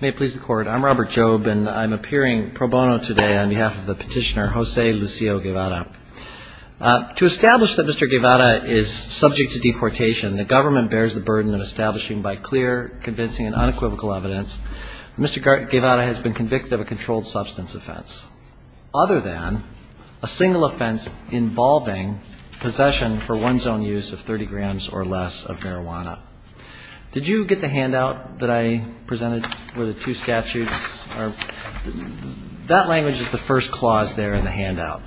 May it please the court, I'm Robert Jobe and I'm appearing pro bono today on behalf of the petitioner Jose Lucio Guevara. To establish that Mr. Guevara is subject to deportation, the government bears the burden of establishing by clear, convincing and unequivocal evidence that Mr. Guevara has been convicted of a controlled substance offense, other than a single offense involving possession for one's own use of 30 grams or less of marijuana. Did you get the handout that I presented where the two statutes are? That language is the first clause there in the handout.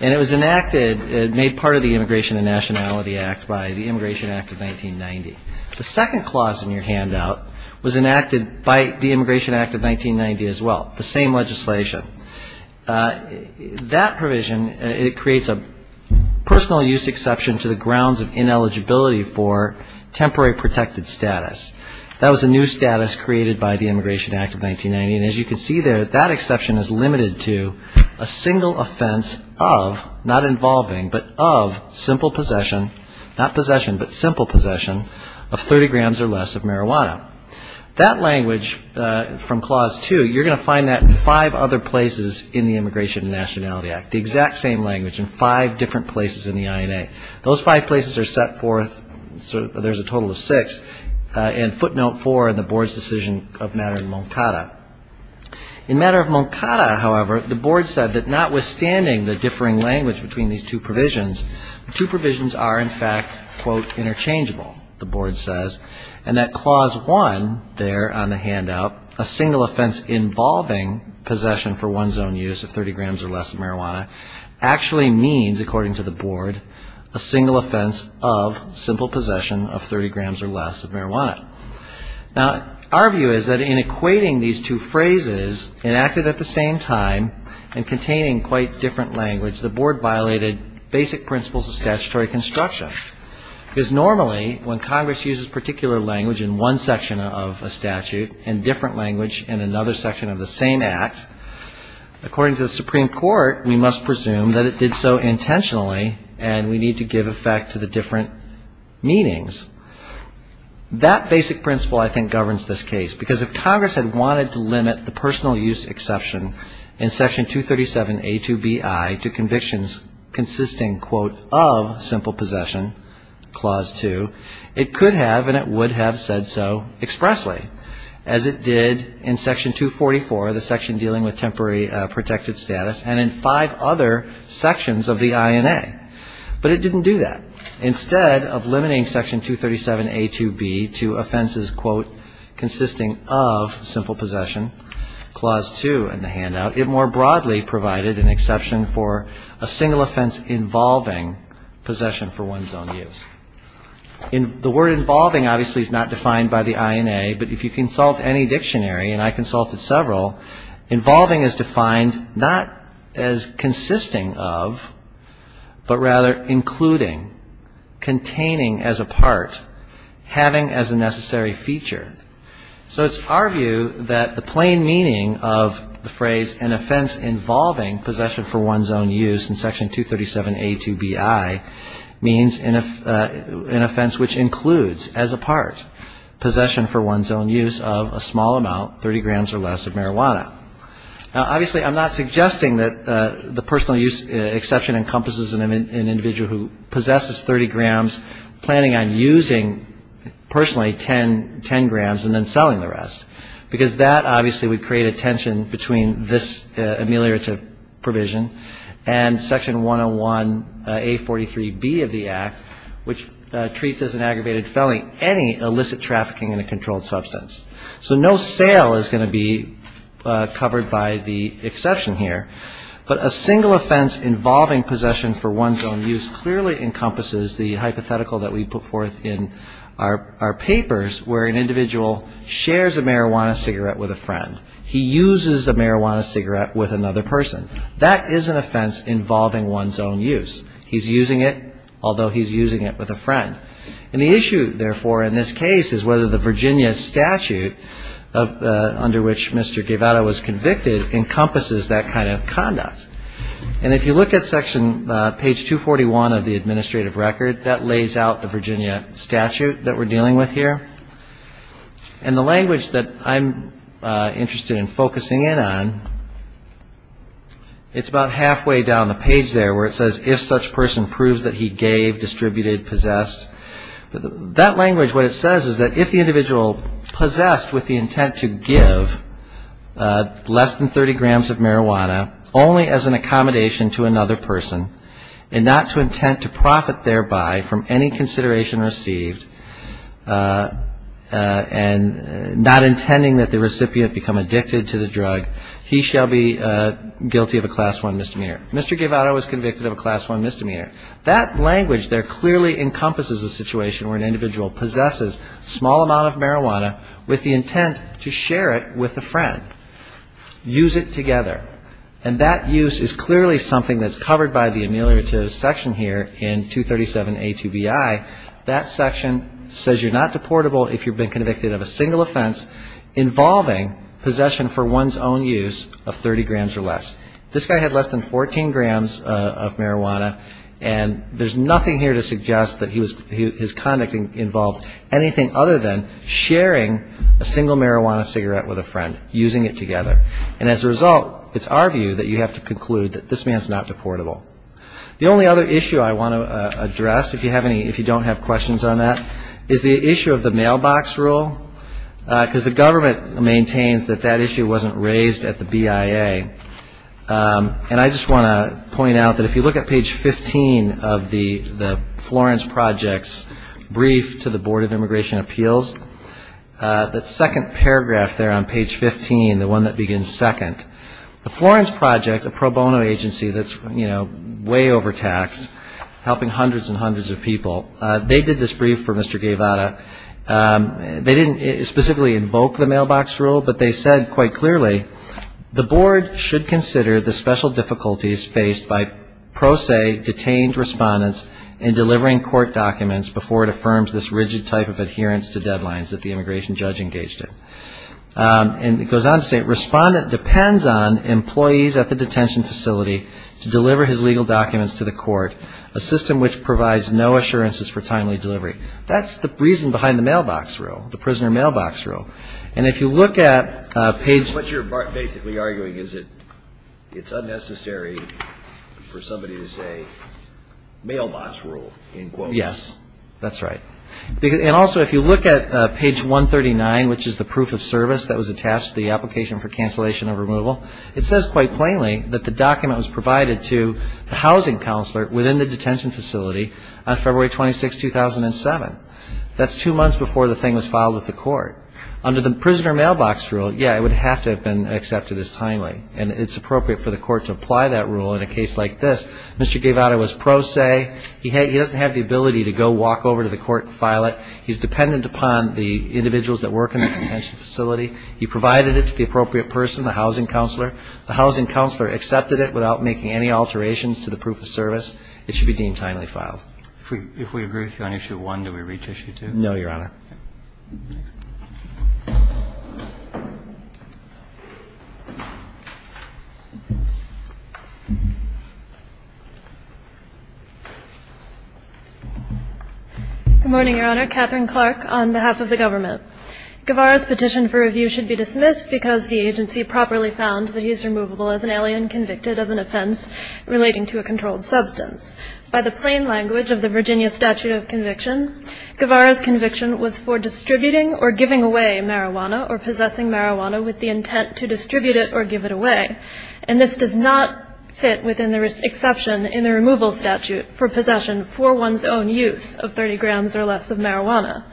And it was enacted, made part of the Immigration and Nationality Act by the Immigration Act of 1990. The second clause in your handout was enacted by the Immigration Act of 1990 as well, the same legislation. That provision, it creates a personal use exception to the grounds of ineligibility for temporary protected status. That was a new status created by the Immigration Act of 1990. And as you can see there, that exception is limited to a single offense of, not involving, but of simple possession, not possession but simple possession of 30 grams or less of marijuana. That language from clause two, you're going to find that in five other places in the Immigration and Nationality Act, the exact same language in five different places in the INA. Those five places are set forth, there's a total of six, and footnote four in the board's decision of matter in Moncada. In matter of Moncada, however, the board said that notwithstanding the differing language between these two provisions, the two provisions are in fact, quote, interchangeable, the board says. And that clause one there on the handout, a single offense involving possession for one's own use of 30 grams or less of marijuana, actually means, according to the board, a single offense of simple possession of 30 grams or less of marijuana. Now, our view is that in equating these two phrases enacted at the same time and containing quite different language, the board violated basic principles of statutory construction. Because normally, when Congress uses particular language in one section of a statute and different language in another section of the same act, according to the Supreme Court, we must presume that it did so intentionally and we need to give effect to the different meanings. That basic principle, I think, governs this case. Because if Congress had wanted to limit the personal use exception in Section 237A2Bi to convictions consisting, quote, of simple possession, clause two, it could have and it would have said so expressly, as it did in Section 244, the section dealing with temporary protected status, and in five other sections of the INA. But it didn't do that. Instead of limiting Section 237A2B to offenses, quote, consisting of simple possession, clause two in the handout, it more broadly provided an exception for a single offense involving possession for one's own use. The word involving, obviously, is not defined by the INA, but if you consult any dictionary, and I consulted several, involving is defined not as consisting of, but rather including, containing as a part, having as a necessary feature. So it's our view that the plain meaning of the phrase an offense involving possession for one's own use in Section 237A2Bi means an offense which includes as a part possession for one's own use of a small amount, 30 grams or less, of marijuana. Now, obviously, I'm not suggesting that the personal use exception encompasses an individual who possesses 30 grams, planning on using personally 10 grams and then selling the rest, because that, obviously, would create a tension between this ameliorative provision and Section 101A43B of the Act, which treats as an aggravated felony any illicit trafficking in a controlled substance. So no sale is going to be covered by the exception here. But a single offense involving possession for one's own use clearly encompasses the hypothetical that we put forth in our papers, where an individual shares a marijuana cigarette with a friend. He uses a marijuana cigarette with another person. That is an offense involving one's own use. He's using it, although he's using it with a friend. And the issue, therefore, in this case is whether the Virginia statute, under which Mr. Guevara was convicted, encompasses that kind of conduct. And if you look at Section, page 241 of the administrative record, that lays out the Virginia statute that we're dealing with here. And the language that I'm interested in focusing in on, it's about halfway down the page there where it says, if such person proves that he gave, distributed, possessed. That language, what it says is that if the individual possessed with the intent to give less than 30 grams of marijuana, only as an accommodation to another person, and not to intent to profit thereby from any consideration received, and not intending that the recipient become addicted to the drug, he shall be guilty of a Class I misdemeanor. Mr. Guevara was convicted of a Class I misdemeanor. That language there clearly encompasses a situation where an individual possesses a small amount of marijuana with the intent to share it with a friend, use it together. And that use is clearly something that's covered by the ameliorative section here in 237A2BI. That section says you're not deportable if you've been convicted of a single offense involving possession for one's own use of 30 grams or less. This guy had less than 14 grams of marijuana. And there's nothing here to suggest that his conduct involved anything other than sharing a single marijuana cigarette with a friend, using it together. And as a result, it's our view that you have to conclude that this man's not deportable. The only other issue I want to address, if you don't have questions on that, is the issue of the mailbox rule, because the government maintains that that issue wasn't raised at the BIA. And I just want to point out that if you look at page 15 of the Florence Project's brief to the Board of Immigration Appeals, that second paragraph there on page 15, the one that begins second, the Florence Project, a pro bono agency that's, you know, way overtaxed, helping hundreds and hundreds of people, they did this brief for Mr. Guevara. They didn't specifically invoke the mailbox rule, but they said quite clearly, the board should consider the special difficulties faced by, pro se, detained respondents in delivering court documents before it affirms this rigid type of adherence to deadlines that the immigration judge engaged in. And it goes on to say, respondent depends on employees at the detention facility to deliver his legal documents to the court, a system which provides no assurances for timely delivery. That's the reason behind the mailbox rule, the prisoner mailbox rule. And if you look at page 139, which is the proof of service that was attached to the application for cancellation of removal, it says quite plainly that the document was provided to the housing counselor within the detention facility on February 26, 2007, that's two months before the thing was filed with the court. Under the prisoner mailbox rule, yeah, it would have to have been accepted as timely, and it's appropriate for the court to apply that rule in a case like this. Mr. Guevara was pro se. He doesn't have the ability to go walk over to the court and file it. He's dependent upon the individuals that work in the detention facility. He provided it to the appropriate person, the housing counselor. The housing counselor accepted it without making any alterations to the proof of service. It should be deemed timely filed. If we agree with you on issue one, do we reach issue two? No, Your Honor. Good morning, Your Honor. Catherine Clark on behalf of the government. Guevara's petition for review should be dismissed because the agency properly found that he's removable as an alien convicted of an offense relating to a controlled substance. By the plain language of the Virginia statute of conviction, Guevara's conviction was for distributing or giving away marijuana or possessing marijuana with the intent to distribute it or give it away, and this does not fit within the exception in the removal statute for possession for one's own use of 30 grams or less of marijuana.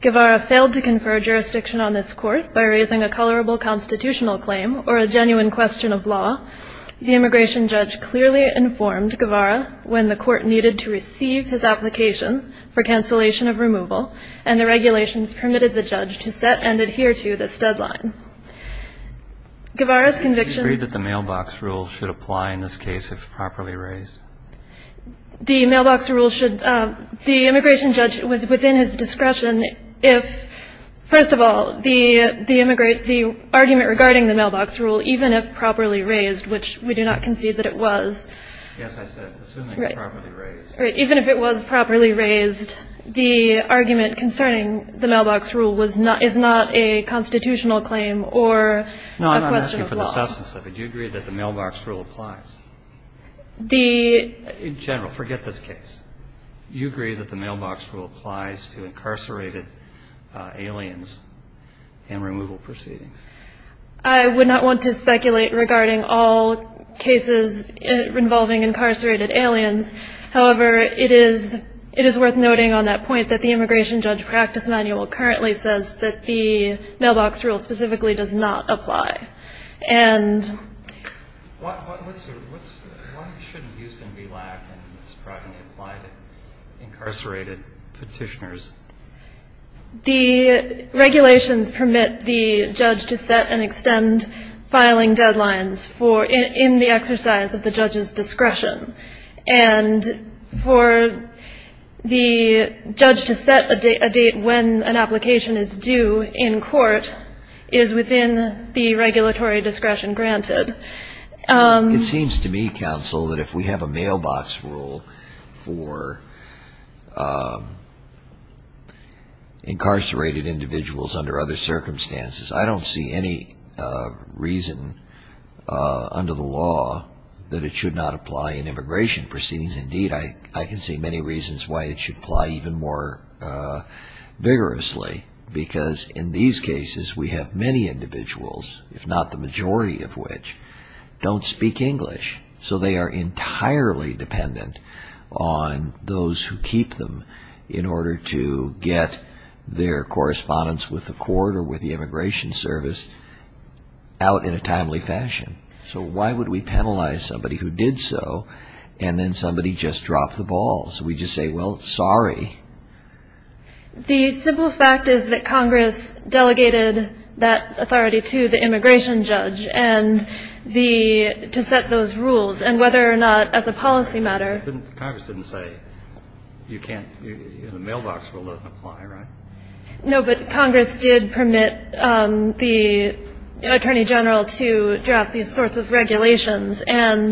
Guevara failed to confer jurisdiction on this court by raising a colorable constitutional claim or a genuine question of law. The immigration judge clearly informed Guevara when the court needed to receive his application for cancellation of removal, and the regulations permitted the judge to set and adhere to this deadline. Guevara's conviction --. Do you agree that the mailbox rule should apply in this case if properly raised? The mailbox rule should – the immigration judge was within his discretion if, first of all, the argument regarding the mailbox rule, even if properly raised, which we do not concede that it was. Yes, I said assuming properly raised. Even if it was properly raised, the argument concerning the mailbox rule is not a constitutional claim or a question of law. No, I'm asking for the substance of it. Do you agree that the mailbox rule applies? The – General, forget this case. You agree that the mailbox rule applies to incarcerated aliens and removal proceedings. I would not want to speculate regarding all cases involving incarcerated aliens. However, it is worth noting on that point that the immigration judge practice manual currently says that the mailbox rule specifically does not apply. And – Why shouldn't Houston be black and it's probably going to apply to incarcerated petitioners? The regulations permit the judge to set and extend filing deadlines for – in the exercise of the judge's discretion. And for the judge to set a date when an application is due in court is within the regulatory discretion granted. It seems to me, counsel, that if we have a mailbox rule for incarcerated individuals under other circumstances, I don't see any reason under the law that it should not apply in immigration proceedings. Indeed, I can see many reasons why it should apply even more vigorously. Because in these cases, we have many individuals, if not the majority of which, don't speak English. So they are entirely dependent on those who keep them in order to get their correspondence with the court or with the immigration service out in a timely fashion. So why would we penalize somebody who did so and then somebody just dropped the ball? So we just say, well, sorry. The simple fact is that Congress delegated that authority to the immigration judge. And the – to set those rules. And whether or not, as a policy matter – Congress didn't say you can't – the mailbox rule doesn't apply, right? No, but Congress did permit the attorney general to draft these sorts of regulations. And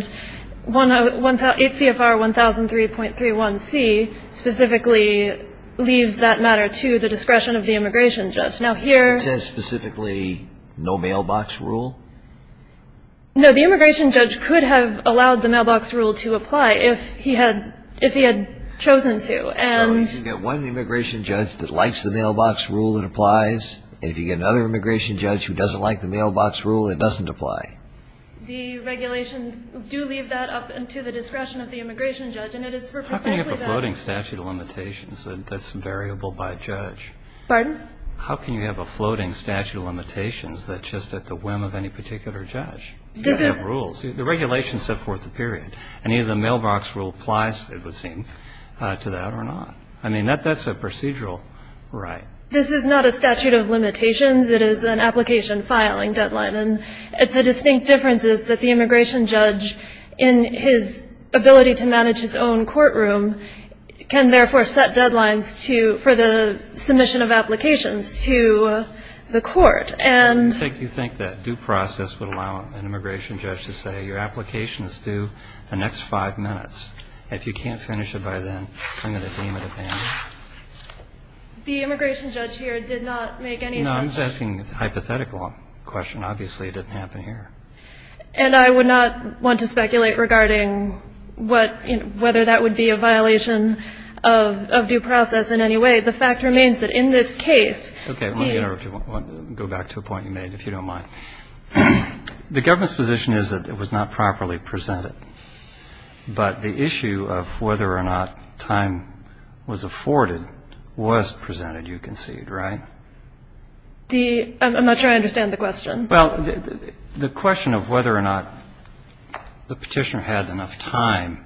ACFR 1003.31c specifically leaves that matter to the discretion of the immigration judge. Now, here – It says specifically no mailbox rule? No. The immigration judge could have allowed the mailbox rule to apply if he had chosen to. So if you get one immigration judge that likes the mailbox rule, it applies. If you get another immigration judge who doesn't like the mailbox rule, it doesn't apply. The regulations do leave that up to the discretion of the immigration judge. And it is for precisely that. How can you have a floating statute of limitations that's variable by judge? Pardon? How can you have a floating statute of limitations that's just at the whim of any particular judge? You have rules. The regulations set forth the period. And either the mailbox rule applies, it would seem, to that or not. I mean, that's a procedural right. This is not a statute of limitations. It is an application filing deadline. And the distinct difference is that the immigration judge, in his ability to manage his own courtroom, can therefore set deadlines for the submission of applications to the court. And you think that due process would allow an immigration judge to say, your application is due the next five minutes. If you can't finish it by then, I'm going to deem it abandoned. The immigration judge here did not make any of that. No, I'm just asking a hypothetical question. Obviously, it didn't happen here. And I would not want to speculate regarding whether that would be a violation of due process in any way. The fact remains that in this case, the ---- Okay. Let me go back to a point you made, if you don't mind. The government's position is that it was not properly presented. But the issue of whether or not time was afforded was presented, you concede, right? I'm not sure I understand the question. Well, the question of whether or not the petitioner had enough time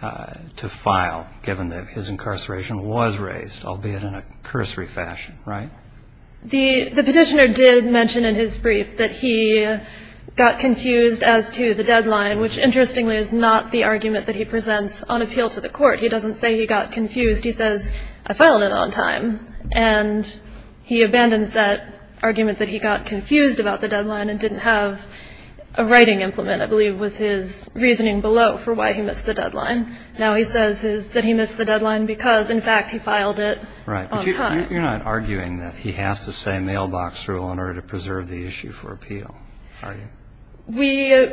to file, given that his incarceration was raised, albeit in a cursory fashion, right? The petitioner did mention in his brief that he got confused as to the deadline, which interestingly is not the argument that he presents on appeal to the court. He doesn't say he got confused. He says, I filed it on time. And he abandons that argument that he got confused about the deadline and didn't have a writing implement, I believe, was his reasoning below for why he missed the deadline. Now he says that he missed the deadline because, in fact, he filed it on time. Right. But you're not arguing that he has to say mailbox rule in order to preserve the issue for appeal, are you? We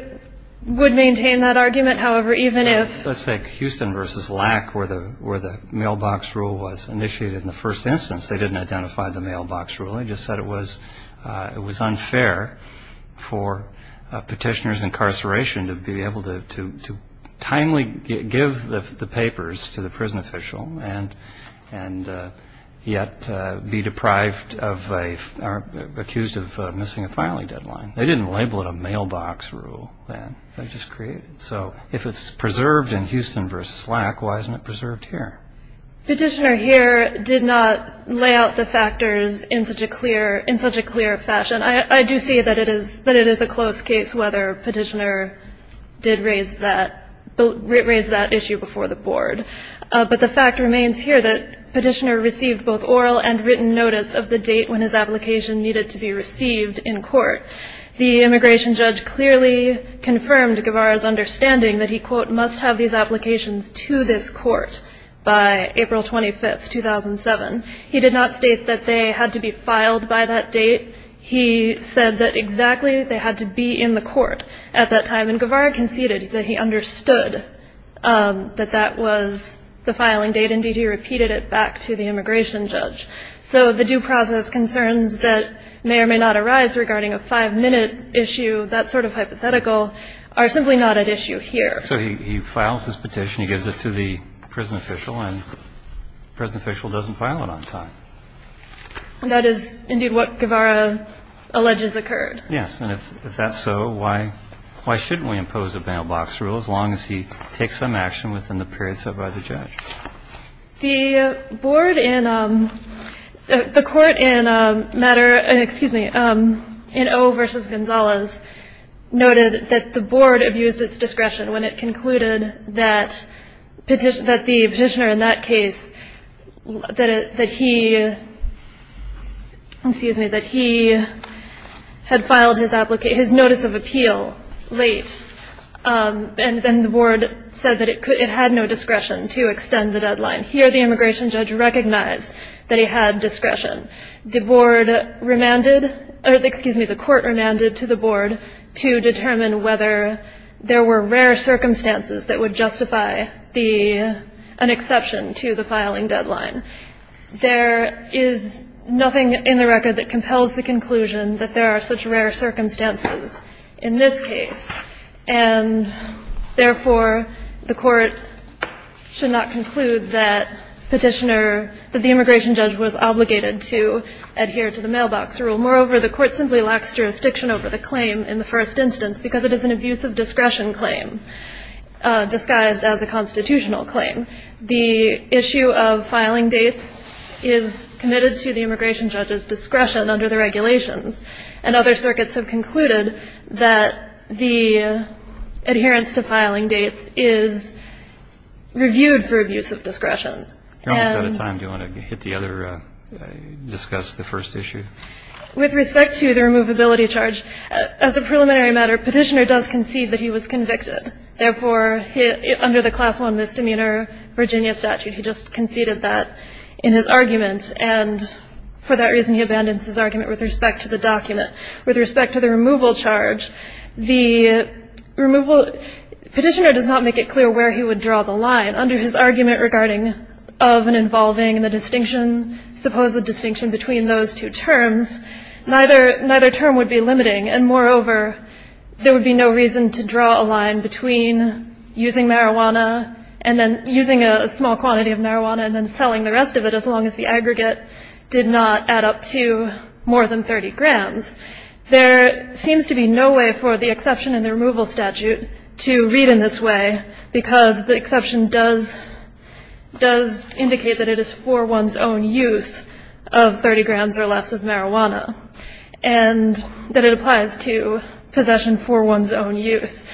would maintain that argument, however, even if ---- Let's take Houston v. Lack, where the mailbox rule was initiated in the first instance. They didn't identify the mailbox rule. They just said it was unfair for a petitioner's incarceration to be able to timely give the papers to the prison official and yet be deprived of a ---- accused of missing a filing deadline. They didn't label it a mailbox rule then. They just created it. So if it's preserved in Houston v. Lack, why isn't it preserved here? Petitioner here did not lay out the factors in such a clear fashion. I do see that it is a close case whether petitioner did raise that issue before the board. But the fact remains here that petitioner received both oral and written notice of the date The immigration judge clearly confirmed Guevara's understanding that he, quote, must have these applications to this court by April 25, 2007. He did not state that they had to be filed by that date. He said that exactly they had to be in the court at that time, and Guevara conceded that he understood that that was the filing date. Indeed, he repeated it back to the immigration judge. So the due process concerns that may or may not arise regarding a five-minute issue, that sort of hypothetical, are simply not at issue here. So he files his petition, he gives it to the prison official, and the prison official doesn't file it on time. That is indeed what Guevara alleges occurred. Yes, and if that's so, why shouldn't we impose a mailbox rule as long as he takes some action within the period set by the judge? The board in the court in matter, excuse me, in O versus Gonzalez, noted that the board abused its discretion when it concluded that the petitioner in that case, that he, excuse me, that he had filed his notice of appeal late, and then the board said that it had no discretion to extend the deadline. Here the immigration judge recognized that he had discretion. The board remanded, or excuse me, the court remanded to the board to determine whether there were rare circumstances that would justify an exception to the filing deadline. There is nothing in the record that compels the conclusion that there are such rare circumstances in this case, and therefore the court should not conclude that petitioner, that the immigration judge was obligated to adhere to the mailbox rule. Moreover, the court simply lacks jurisdiction over the claim in the first instance because it is an abuse of discretion claim disguised as a constitutional claim. The issue of filing dates is committed to the immigration judge's discretion and under the regulations, and other circuits have concluded that the adherence to filing dates is reviewed for abuse of discretion. And you're almost out of time. Do you want to hit the other, discuss the first issue? With respect to the removability charge, as a preliminary matter, petitioner does concede that he was convicted. Therefore, under the Class I misdemeanor Virginia statute, he just conceded that in his argument, and for that reason he abandons his argument with respect to the document. With respect to the removal charge, the removal, petitioner does not make it clear where he would draw the line. Under his argument regarding of and involving and the distinction, suppose the distinction between those two terms, neither term would be limiting. And moreover, there would be no reason to draw a line between using marijuana and then using a small quantity of marijuana and then selling the rest of it as long as the aggregate did not add up to more than 30 grams. There seems to be no way for the exception in the removal statute to read in this way because the exception does indicate that it is for one's own use of 30 grams or less of marijuana, and that it applies to possession for one's own use.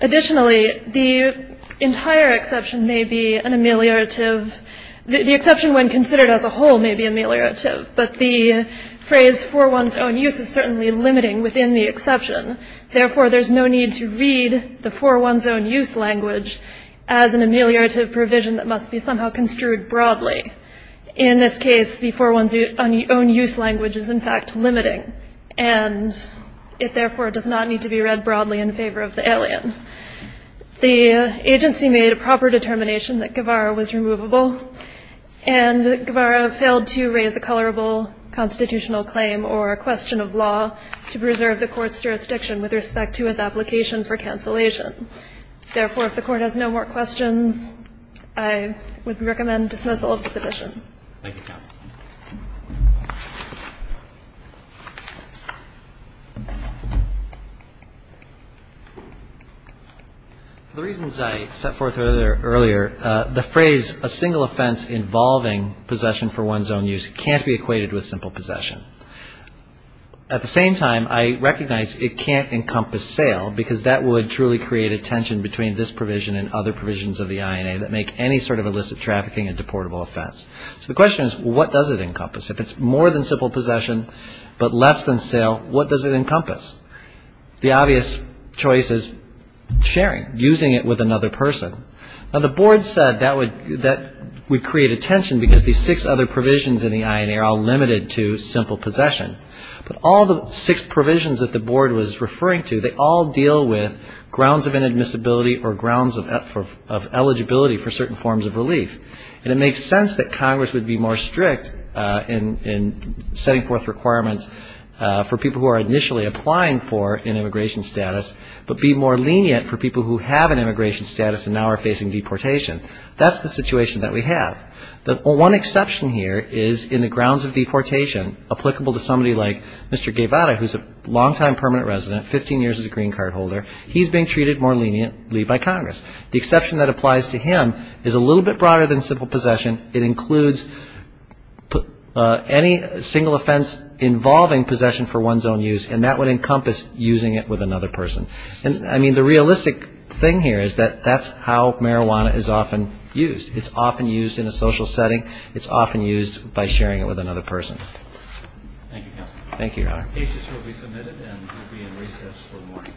Additionally, the entire exception may be an ameliorative, the exception when considered as a whole may be ameliorative, but the phrase for one's own use is certainly limiting within the exception. Therefore, there's no need to read the for one's own use language as an ameliorative provision that must be somehow construed broadly. In this case, the for one's own use language is in fact limiting, and it therefore does not need to be read broadly in favor of the alien. The agency made a proper determination that Guevara was removable, and Guevara failed to raise a colorable constitutional claim or a question of law to preserve the Court's jurisdiction with respect to his application for cancellation. Therefore, if the Court has no more questions, I would recommend dismissal of the petition. Thank you, counsel. The reasons I set forth earlier, the phrase a single offense involving possession for one's own use can't be equated with simple possession. At the same time, I recognize it can't encompass sale, because that would truly create a tension between this provision and other provisions of the INA that make any sort of illicit trafficking a deportable offense. So the question is, what does it encompass? If it's more than simple possession but less than sale, what does it encompass? The obvious choice is sharing, using it with another person. Now, the Board said that would create a tension, because these six other provisions in the INA are all limited to simple possession. But all the six provisions that the Board was referring to, they all deal with grounds of inadmissibility or grounds of eligibility for certain forms of relief. And it makes sense that Congress would be more strict in setting forth requirements for people who are initially applying for an immigration status but be more lenient for people who have an immigration status and now are facing deportation. That's the situation that we have. The one exception here is in the grounds of deportation applicable to somebody like Mr. Guevara, who's a long-time permanent resident, 15 years as a green card holder. He's being treated more leniently by Congress. The exception that applies to him is a little bit broader than simple possession. It includes any single offense involving possession for one's own use, and that would encompass using it with another person. And, I mean, the realistic thing here is that that's how marijuana is often used. It's often used in a social setting. It's often used by sharing it with another person. Thank you, counsel. Thank you, Your Honor. Cases will be submitted and will be in recess for the morning.